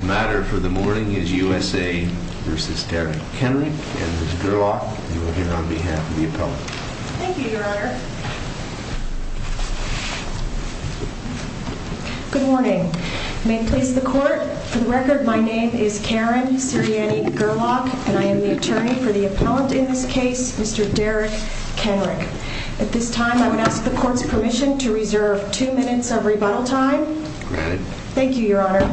The matter for the morning is U.S.A. v. Derrick Kenrick, and Ms. Gerlach, you are here on behalf of the appellant. Thank you, your honor. Good morning. May it please the court, for the record, my name is Karen Sirianni Gerlach, and I am the attorney for the appellant in this case, Mr. Derrick Kenrick. At this time, I would ask the court's permission to reserve two minutes of rebuttal time. Go ahead. Thank you, your honor.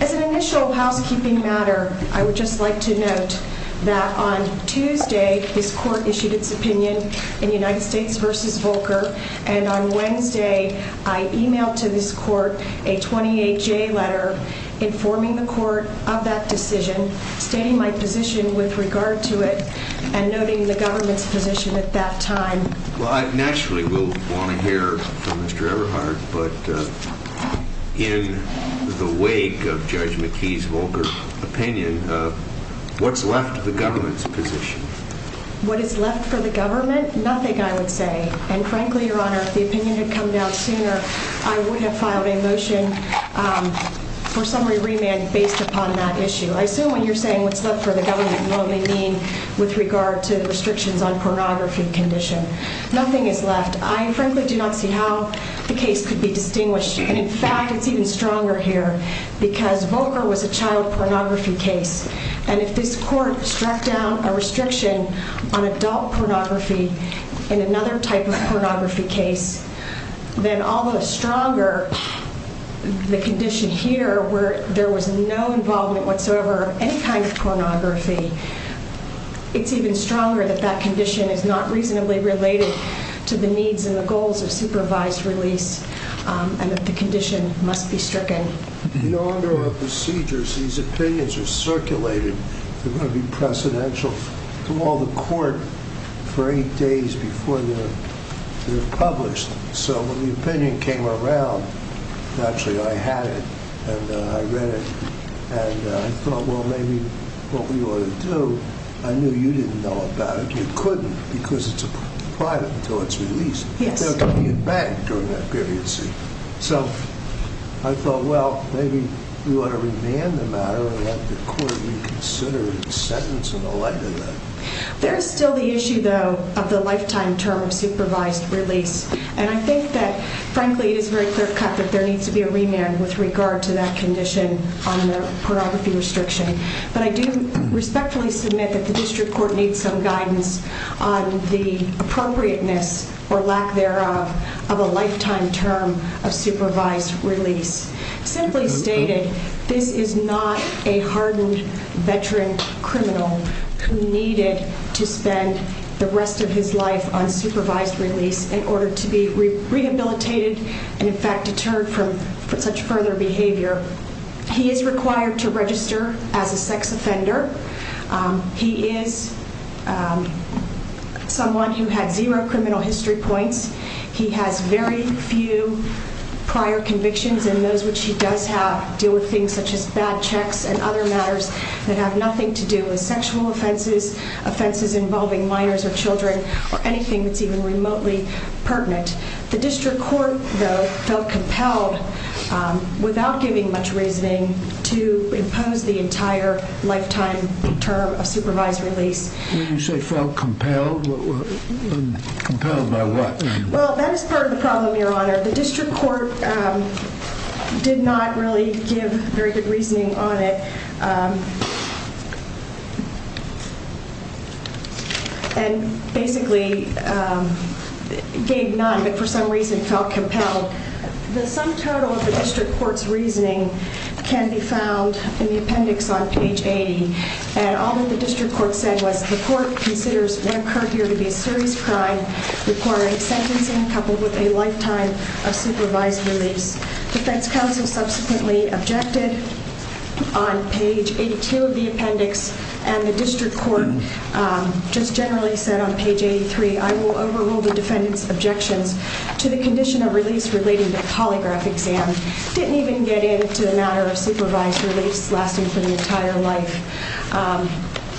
As an initial housekeeping matter, I would just like to note that on Tuesday, this court issued its opinion in United States v. Volcker, and on Wednesday, I emailed to this court a 28-J letter informing the court of that decision, stating my position with regard to it, and noting the government's position at that time. Naturally, we'll want to hear from Mr. Everhart, but in the wake of Judge McKee's Volcker opinion, what's left of the government's position? What is left for the government? Nothing, I would say. And frankly, your honor, if the opinion had come down sooner, I would have filed a motion for summary remand based upon that issue. I assume when you're saying what's left for the government, you only mean with regard to the restrictions on pornography condition. Nothing is left. I frankly do not see how the case could be distinguished. And in fact, it's even stronger here, because Volcker was a child pornography case. And if this court struck down a restriction on adult pornography in another type of pornography case, then all the stronger the condition here where there was no involvement whatsoever of any kind of pornography, it's even stronger that that condition is not reasonably related to the needs and the goals of supervised release, and that the condition must be stricken. In order of procedures, these opinions are circulated. They're going to be precedential to all the court for eight days before they're published. So when the opinion came around, naturally, I had it, and I read it. And I thought, well, maybe what we ought to do, I knew you didn't know about it. You couldn't, because it's private until it's released. There can be a bank on that grievancy. So I thought, well, maybe we ought to remand the matter and let the court reconsider the sentence and all that. There is still the issue, though, of the lifetime term of supervised release. And I think that, frankly, it is very clear-cut that there needs to be a remand with regard to that condition on the pornography restriction. But I do respectfully submit that the district court needs some guidance on the appropriateness or lack thereof of a lifetime term of supervised release. Simply stated, this is not a hardened veteran criminal who needed to spend the rest of his life on supervised release in order to be rehabilitated and, in fact, deterred from such further behavior. He is required to register as a sex offender. He is someone who had zero criminal history points. He has very few prior convictions, and those which he does have deal with things such as bad checks and other matters that have nothing to do with sexual offenses, offenses involving minors or children, or anything that's even remotely pertinent. The district court, though, felt compelled, without giving much reasoning, to impose the entire lifetime term of supervised release. When you say felt compelled, compelled by what? Well, that is part of the problem, Your Honor. The district court did not really give very good reasoning on it and basically gave none, but for some reason felt compelled. The sum total of the district court's reasoning can be found in the appendix on page 80. And all that the district court said was the court considers what occurred here to be a serious crime requiring sentencing coupled with a lifetime of supervised release. Defense counsel subsequently objected on page 82 of the appendix, and the district court just generally said on page 83, I will overrule the defendant's objections to the condition of release relating to the polygraph exam. Didn't even get into the matter of supervised release lasting for the entire life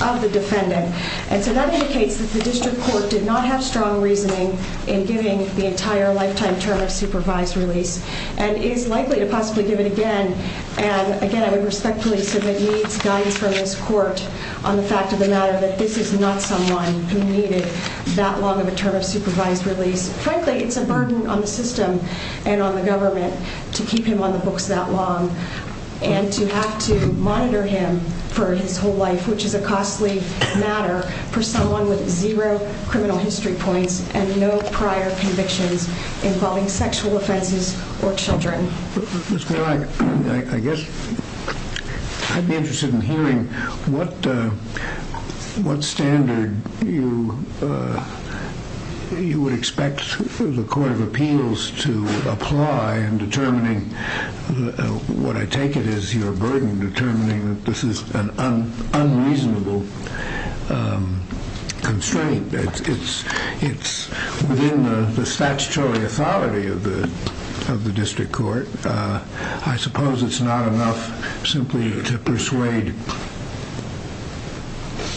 of the defendant. And so that indicates that the district court did not have strong reasoning in giving the entire lifetime term of supervised release, and is likely to possibly give it again. And again, I would respectfully submit needs guidance from this court on the fact of the matter that this is not someone who needed that long of a term of supervised release. Frankly, it's a burden on the system and on the government to keep him on the books that long and to have to monitor him for his whole life, which is a costly matter for someone with zero criminal history points and no prior convictions involving sexual offenses or children. I guess I'd be interested in hearing what standard you would expect the Court of Appeals to apply in determining what I take it is your burden, determining that this is an unreasonable constraint. It's within the statutory authority of the district court. I suppose it's not enough simply to persuade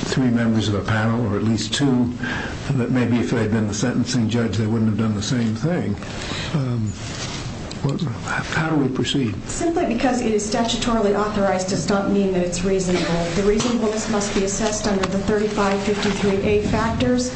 three members of the panel, or at least two, that maybe if they'd been the sentencing judge, they wouldn't have done the same thing. How do we proceed? Simply because it is statutorily authorized does not mean that it's reasonable. The reasonableness must be assessed under the 3553A factors.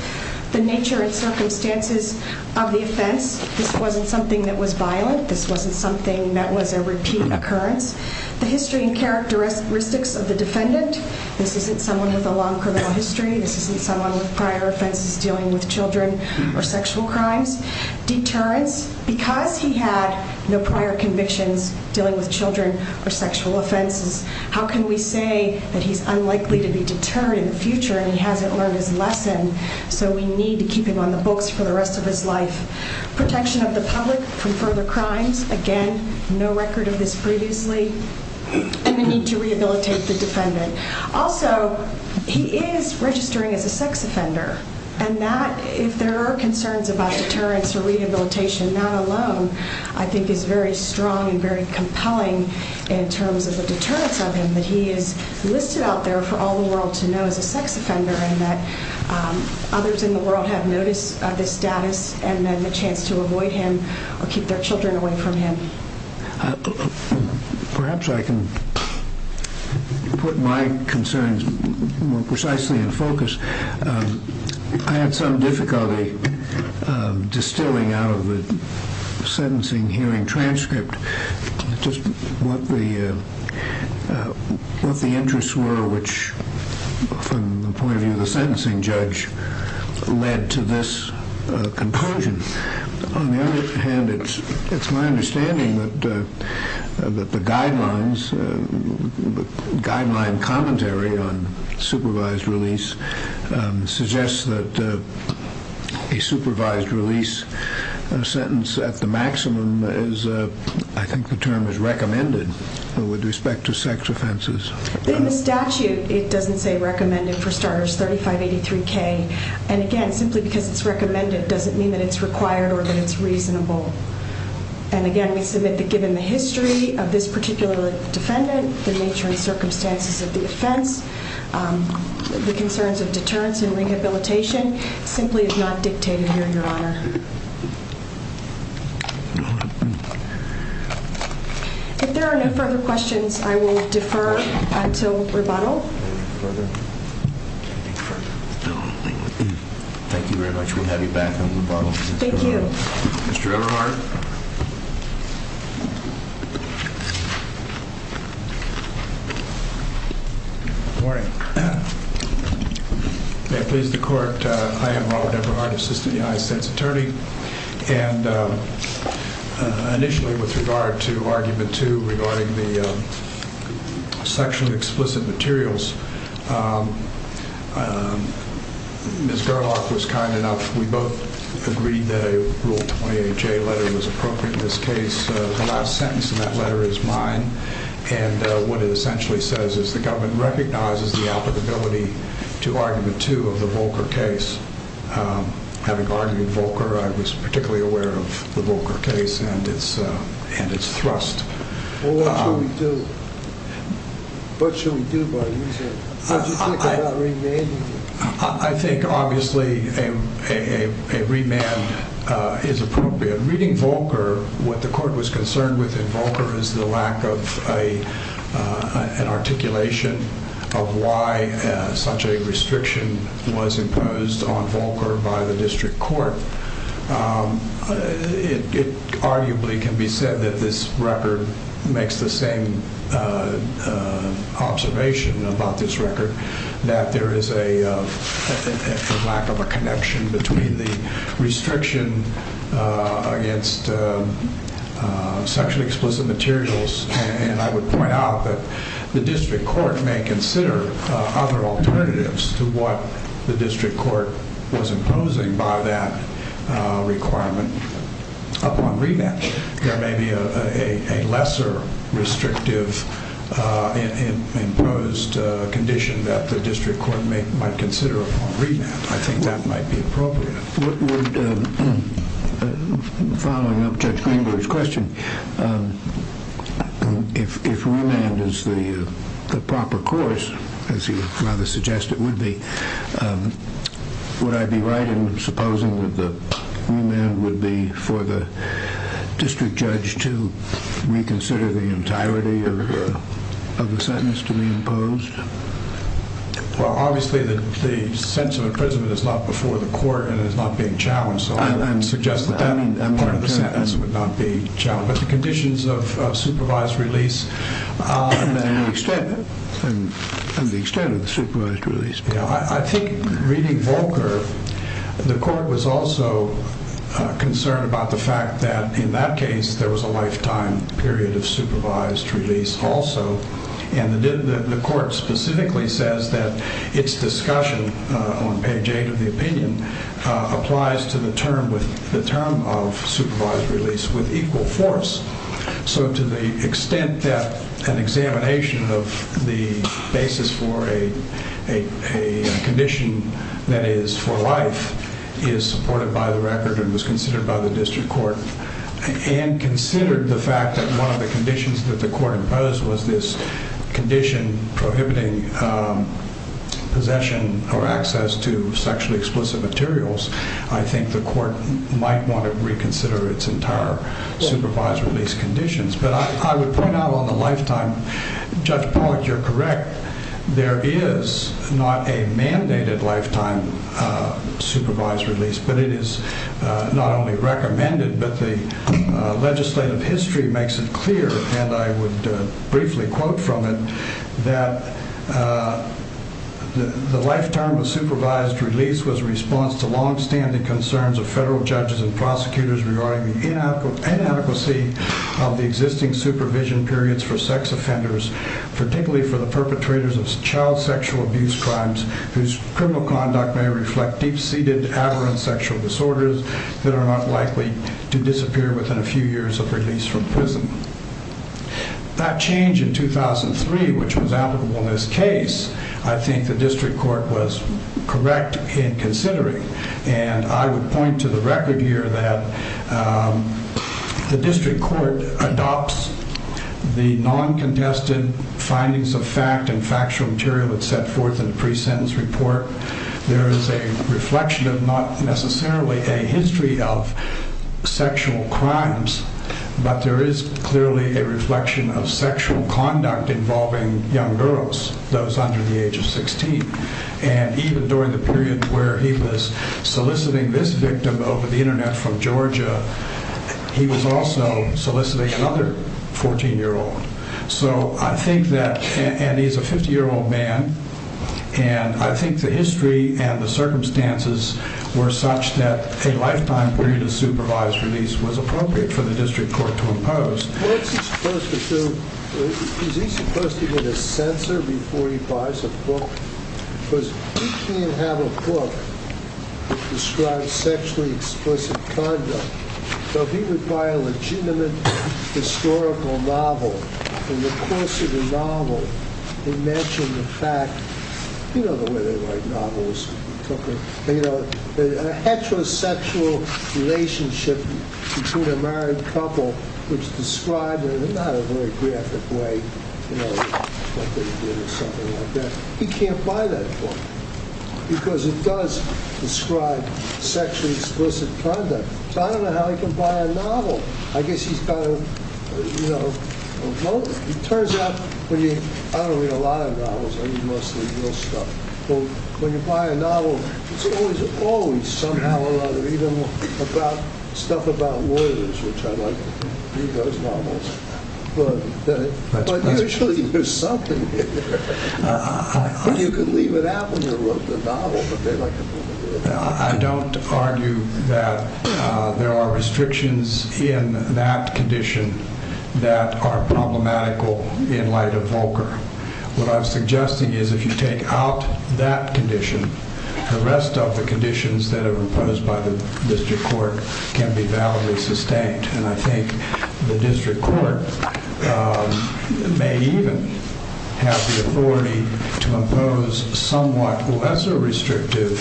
The nature and circumstances of the offense. This wasn't something that was violent. This wasn't something that was a repeat occurrence. The history and characteristics of the defendant. This isn't someone with a long criminal history. This isn't someone with prior offenses dealing with children or sexual crimes. Deterrence. Because he had no prior convictions dealing with children or sexual offenses, how can we say that he's unlikely to be deterred in the future and he hasn't learned his lesson? So we need to keep him on the books for the rest of his life. Protection of the public from further crimes. Again, no record of this previously. And the need to rehabilitate the defendant. Also, he is registering as a sex offender. And that, if there are concerns about deterrence or rehabilitation, not alone, I think is very strong and very compelling in terms of the deterrence of him, that he is listed out there for all the world to know as a sex offender and that others in the world have noticed this status and then the chance to avoid him or keep their children away from him. Perhaps I can put my concerns more precisely in focus. I had some difficulty distilling out of the sentencing hearing transcript just what the interests were which, from the point of view of the sentencing judge, led to this conclusion. On the other hand, it's my understanding that the guidelines, the guideline commentary on supervised release, suggests that a supervised release sentence at the maximum is, I think the term is recommended with respect to sex offenses. In the statute, it doesn't say recommended for starters, 3583K. And again, simply because it's recommended doesn't mean that it's required or that it's reasonable. And again, we submit that given the history of this particular defendant, the nature and circumstances of the offense, the concerns of deterrence and rehabilitation simply is not dictated here, Your Honor. If there are no further questions, I will defer until rebuttal. Thank you very much. We'll have you back on rebuttal. Thank you. Mr. Eberhardt. Good morning. May it please the Court, I am Robert Eberhardt, Assistant United States Attorney. And initially with regard to Argument 2 regarding the section of explicit materials, Ms. Gerlach was kind enough, we both agreed that a Rule 28J letter was appropriate in this case. The last sentence in that letter is mine. And what it essentially says is the government recognizes the applicability to Argument 2 of the Volcker case. Having argued Volcker, I was particularly aware of the Volcker case and its thrust. Well, what should we do? What should we do about it? How do you think about remanding it? I think obviously a remand is appropriate. Reading Volcker, what the Court was concerned with in Volcker is the lack of an articulation of why such a restriction was imposed on Volcker by the District Court. It arguably can be said that this record makes the same observation about this record, that there is a lack of a connection between the restriction against section of explicit materials and I would point out that the District Court may consider other alternatives to what the District Court was imposing by that requirement upon remand. There may be a lesser restrictive imposed condition that the District Court might consider upon remand. I think that might be appropriate. Following up Judge Greenberg's question, if remand is the proper course, as he would rather suggest it would be, would I be right in supposing that the remand would be for the District Judge to reconsider the entirety of the sentence to be imposed? Well, obviously the sentence of imprisonment is not before the Court and is not being challenged, so I would suggest that part of the sentence would not be challenged. But the conditions of supervised release... And the extent of the supervised release. I think reading Volcker, the Court was also concerned about the fact that in that case there was a lifetime period of supervised release also and the Court specifically says that its discussion on page 8 of the opinion applies to the term of supervised release with equal force. So to the extent that an examination of the basis for a condition that is for life is supported by the record and was considered by the District Court and considered the fact that one of the conditions that the Court imposed was this condition prohibiting possession or access to sexually explicit materials, I think the Court might want to reconsider its entire supervised release conditions. But I would point out on the lifetime, Judge Pollack, you're correct, there is not a mandated lifetime supervised release, but it is not only recommended, but the legislative history makes it clear, and I would briefly quote from it, that the lifetime of supervised release was a response to long-standing concerns of federal judges and prosecutors regarding the inadequacy of the existing supervision periods for sex offenders, particularly for the perpetrators of child sexual abuse crimes whose criminal conduct may reflect deep-seated, aberrant sexual disorders that are not likely to disappear within a few years of release from prison. That change in 2003, which was applicable in this case, I think the District Court was correct in considering, and I would point to the record here that the District Court adopts the non-contested findings of fact and factual material that's set forth in the pre-sentence report. There is a reflection of not necessarily a history of sexual crimes, but there is clearly a reflection of sexual conduct involving young girls, those under the age of 16. And even during the period where he was soliciting this victim over the internet from Georgia, he was also soliciting another 14-year-old. So I think that, and he's a 50-year-old man, and I think the history and the circumstances were such that a lifetime period of supervised release was appropriate for the District Court to impose. What's he supposed to do? Is he supposed to get a censor before he buys a book? Because he can't have a book that describes sexually explicit conduct. So if he would buy a legitimate historical novel, in the course of the novel, imagine the fact, you know the way they write novels, a heterosexual relationship between a married couple, which is described in not a very graphic way, like they did or something like that. He can't buy that book, because it does describe sexually explicit conduct. So I don't know how he can buy a novel. I guess he's kind of, you know, it turns out, I don't read a lot of novels, I read mostly real stuff. But when you buy a novel, it's always somehow or other, even stuff about lawyers, which I'd like to read those novels. But usually there's something in there. You could leave it out when you wrote the novel. I don't argue that there are restrictions in that condition that are problematical in light of Volcker. What I'm suggesting is if you take out that condition, the rest of the conditions that are imposed by the district court can be validly sustained. to impose a somewhat lesser restrictive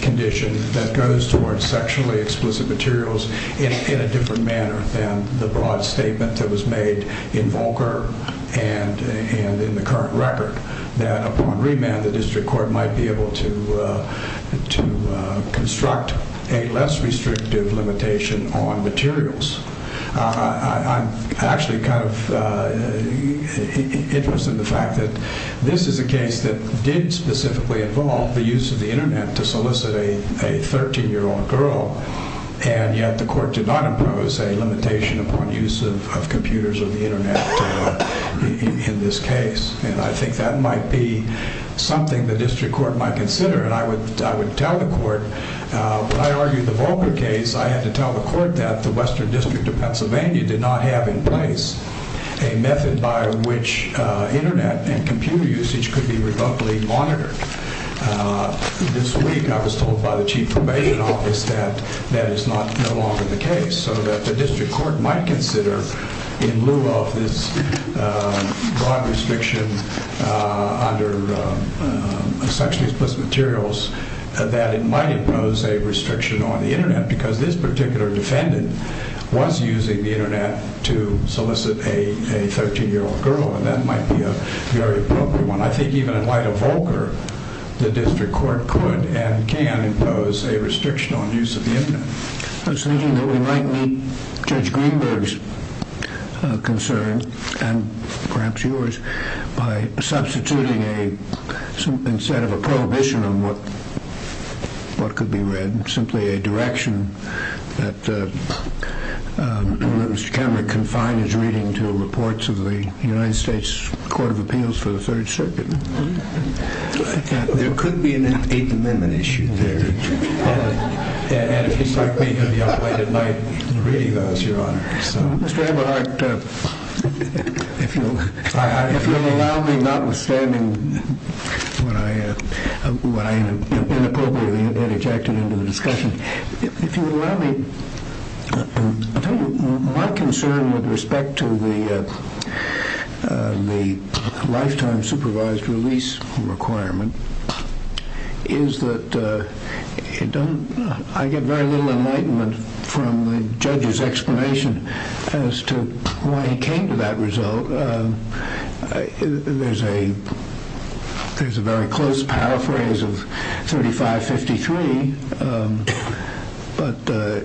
condition that goes towards sexually explicit materials in a different manner than the broad statement that was made in Volcker and in the current record, that upon remand the district court might be able to construct a less restrictive limitation on materials. I'm actually kind of interested in the fact that this is a case that did specifically involve the use of the internet to solicit a 13-year-old girl, and yet the court did not impose a limitation upon use of computers or the internet in this case. And I think that might be something the district court might consider, and I would tell the court, when I argued the Volcker case, I had to tell the court that the Western District of Pennsylvania did not have in place a method by which internet and computer usage could be revocably monitored. This week I was told by the Chief Probation Office that that is no longer the case, so that the district court might consider, in lieu of this broad restriction under sexually explicit materials, that it might impose a restriction on the internet because this particular defendant was using the internet to solicit a 13-year-old girl, and that might be a very appropriate one. I think even in light of Volcker, the district court could and can impose a restriction on use of the internet. I was thinking that we might meet Judge Greenberg's concern, and perhaps yours, by substituting, instead of a prohibition on what could be read, simply a direction that Mr. Cameron can find his reading to reports of the United States Court of Appeals for the Third Circuit. There could be an Eighth Amendment issue there. And if you'd like me to be up late at night and read you that, it's your honor. Mr. Aberhart, if you'll allow me, notwithstanding what I inappropriately interjected into the discussion, if you'll allow me, my concern with respect to the lifetime supervised release requirement is that I get very little enlightenment from the judge's explanation as to why he came to that result. There's a very close paraphrase of 3553, but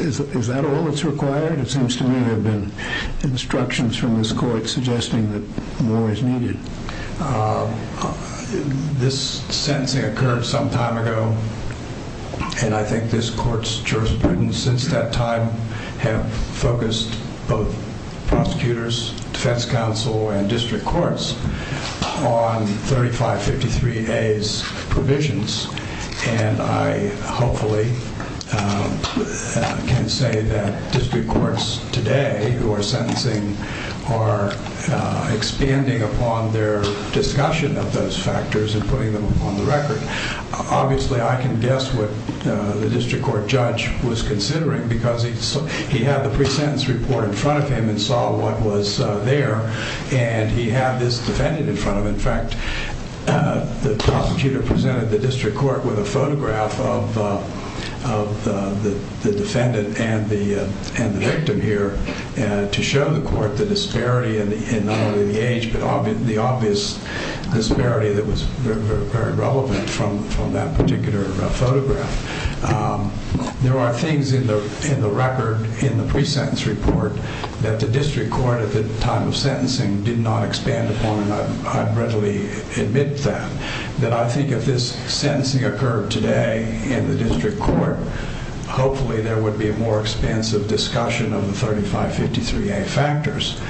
is that all that's required? It seems to me there have been instructions from this court suggesting that more is needed. This sentencing occurred some time ago, and I think this court's jurisprudence since that time have focused both prosecutors, defense counsel, and district courts on 3553A's provisions, and I hopefully can say that district courts today who are sentencing are expanding upon their discussion of those factors and putting them on the record. Obviously, I can guess what the district court judge was considering because he had the pre-sentence report in front of him and saw what was there, and he had this defendant in front of him. In fact, the prosecutor presented the district court with a photograph of the defendant and the victim here to show the court the disparity in not only the age, but the obvious disparity that was very relevant from that particular photograph. There are things in the record in the pre-sentence report that the district court at the time of sentencing did not expand upon, and I readily admit that. I think if this sentencing occurred today in the district court, hopefully there would be a more expansive discussion of the 3553A factors,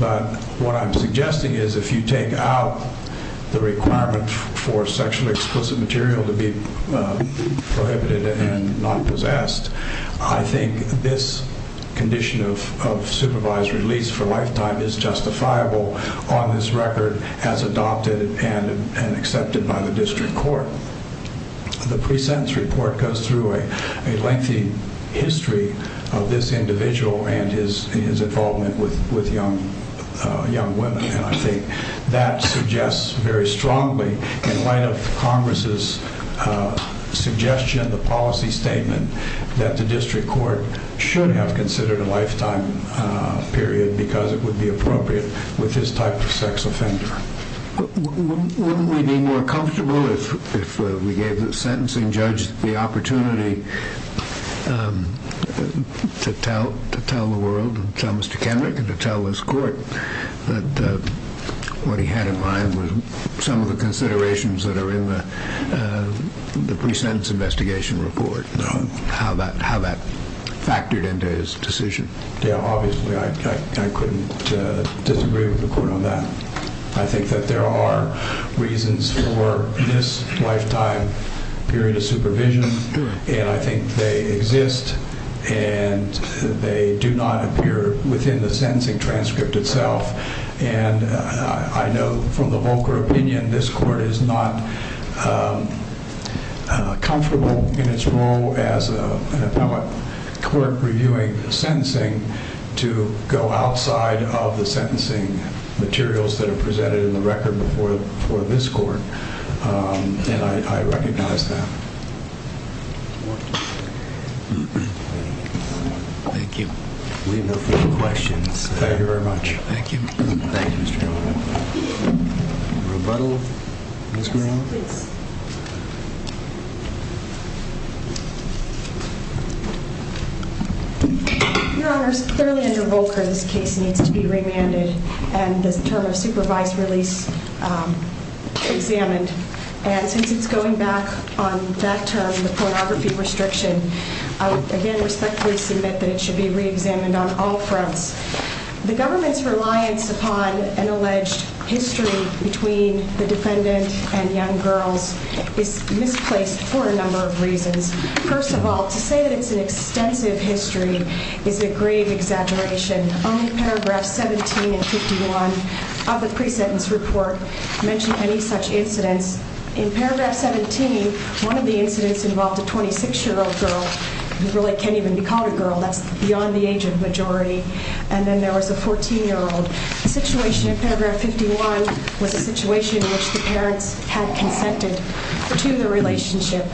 but what I'm suggesting is if you take out the requirement for sexually explicit material to be prohibited and not possessed, I think this condition of supervised release for a lifetime is justifiable on this record as adopted and accepted by the district court. The pre-sentence report goes through a lengthy history of this individual and his involvement with young women, and I think that suggests very strongly in light of Congress' suggestion, the policy statement, that the district court should have considered a lifetime period because it would be appropriate with this type of sex offender. Wouldn't we be more comfortable if we gave the sentencing judge the opportunity to tell the world and tell Mr. Kendrick and to tell this court that what he had in mind was some of the considerations that are in the pre-sentence investigation report, how that factored into his decision? Yeah, obviously I couldn't disagree with the court on that. I think that there are reasons for this lifetime period of supervision, and I think they exist and they do not appear within the sentencing transcript itself, and I know from the Volcker opinion this court is not comfortable in its role as an appellate court reviewing sentencing to go outside of the sentencing materials that are presented in the record before this court, and I recognize that. Thank you. We have no further questions. Thank you very much. Thank you. Thank you, Mr. Chairman. A rebuttal, Ms. Guerrero? Yes, please. Your Honors, clearly under Volcker this case needs to be remanded, and the term of supervised release examined, and since it's going back on that term, the pornography restriction, I would again respectfully submit that it should be reexamined on all fronts. The government's reliance upon an alleged history between the defendant and young girls is misplaced for a number of reasons. First of all, to say that it's an extensive history is a grave exaggeration. Only Paragraph 17 and 51 of the pre-sentence report mention any such incidents. In Paragraph 17, one of the incidents involved a 26-year-old girl who really can't even be called a girl. That's beyond the age of majority. And then there was a 14-year-old. The situation in Paragraph 51 was a situation in which the parents had consented to the relationship.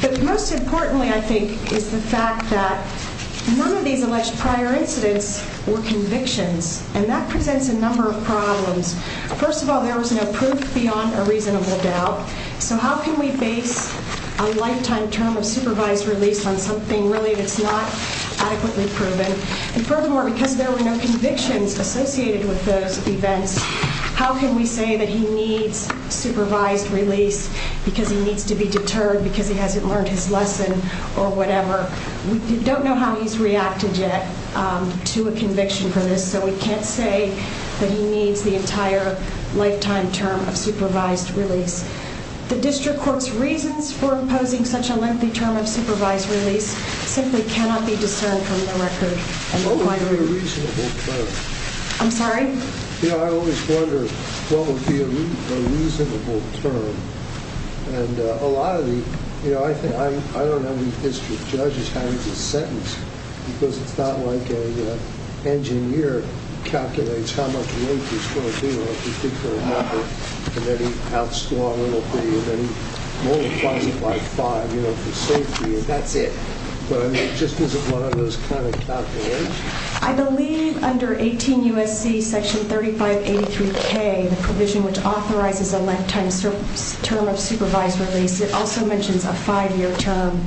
But most importantly, I think, is the fact that none of these alleged prior incidents were convictions, and that presents a number of problems. First of all, there was no proof beyond a reasonable doubt. So how can we base a lifetime term of supervised release on something really that's not adequately proven? And furthermore, because there were no convictions associated with those events, how can we say that he needs supervised release because he needs to be deterred because he hasn't learned his lesson or whatever? We don't know how he's reacted yet to a conviction for this, so we can't say that he needs the entire lifetime term of supervised release. The district court's reasons for imposing such a lengthy term of supervised release simply cannot be discerned from the record. What would be a reasonable term? I'm sorry? You know, I always wonder what would be a reasonable term. And a lot of the, you know, I think I don't have any history of judges having to sentence because it's not like an engineer calculates how much weight he's going to deal with, you think for a number, and then he outscores a little bit, and then he multiplies it by five, you know, for safety. That's it. Just as one of those kind of calculations. I believe under 18 U.S.C. section 3583K, the provision which authorizes a lifetime term of supervised release, it also mentions a five-year term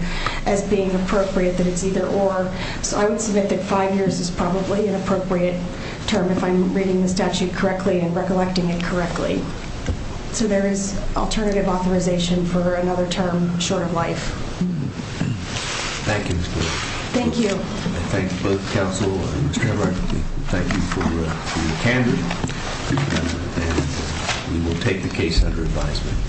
as being appropriate, that it's either or. So I would submit that five years is probably an appropriate term if I'm reading the statute correctly and recollecting it correctly. So there is alternative authorization for another term short of life. Thank you, Ms. Glick. Thank you. I thank both counsel and Mr. Hemmert. Thank you for your candor. We will take the case under advisement.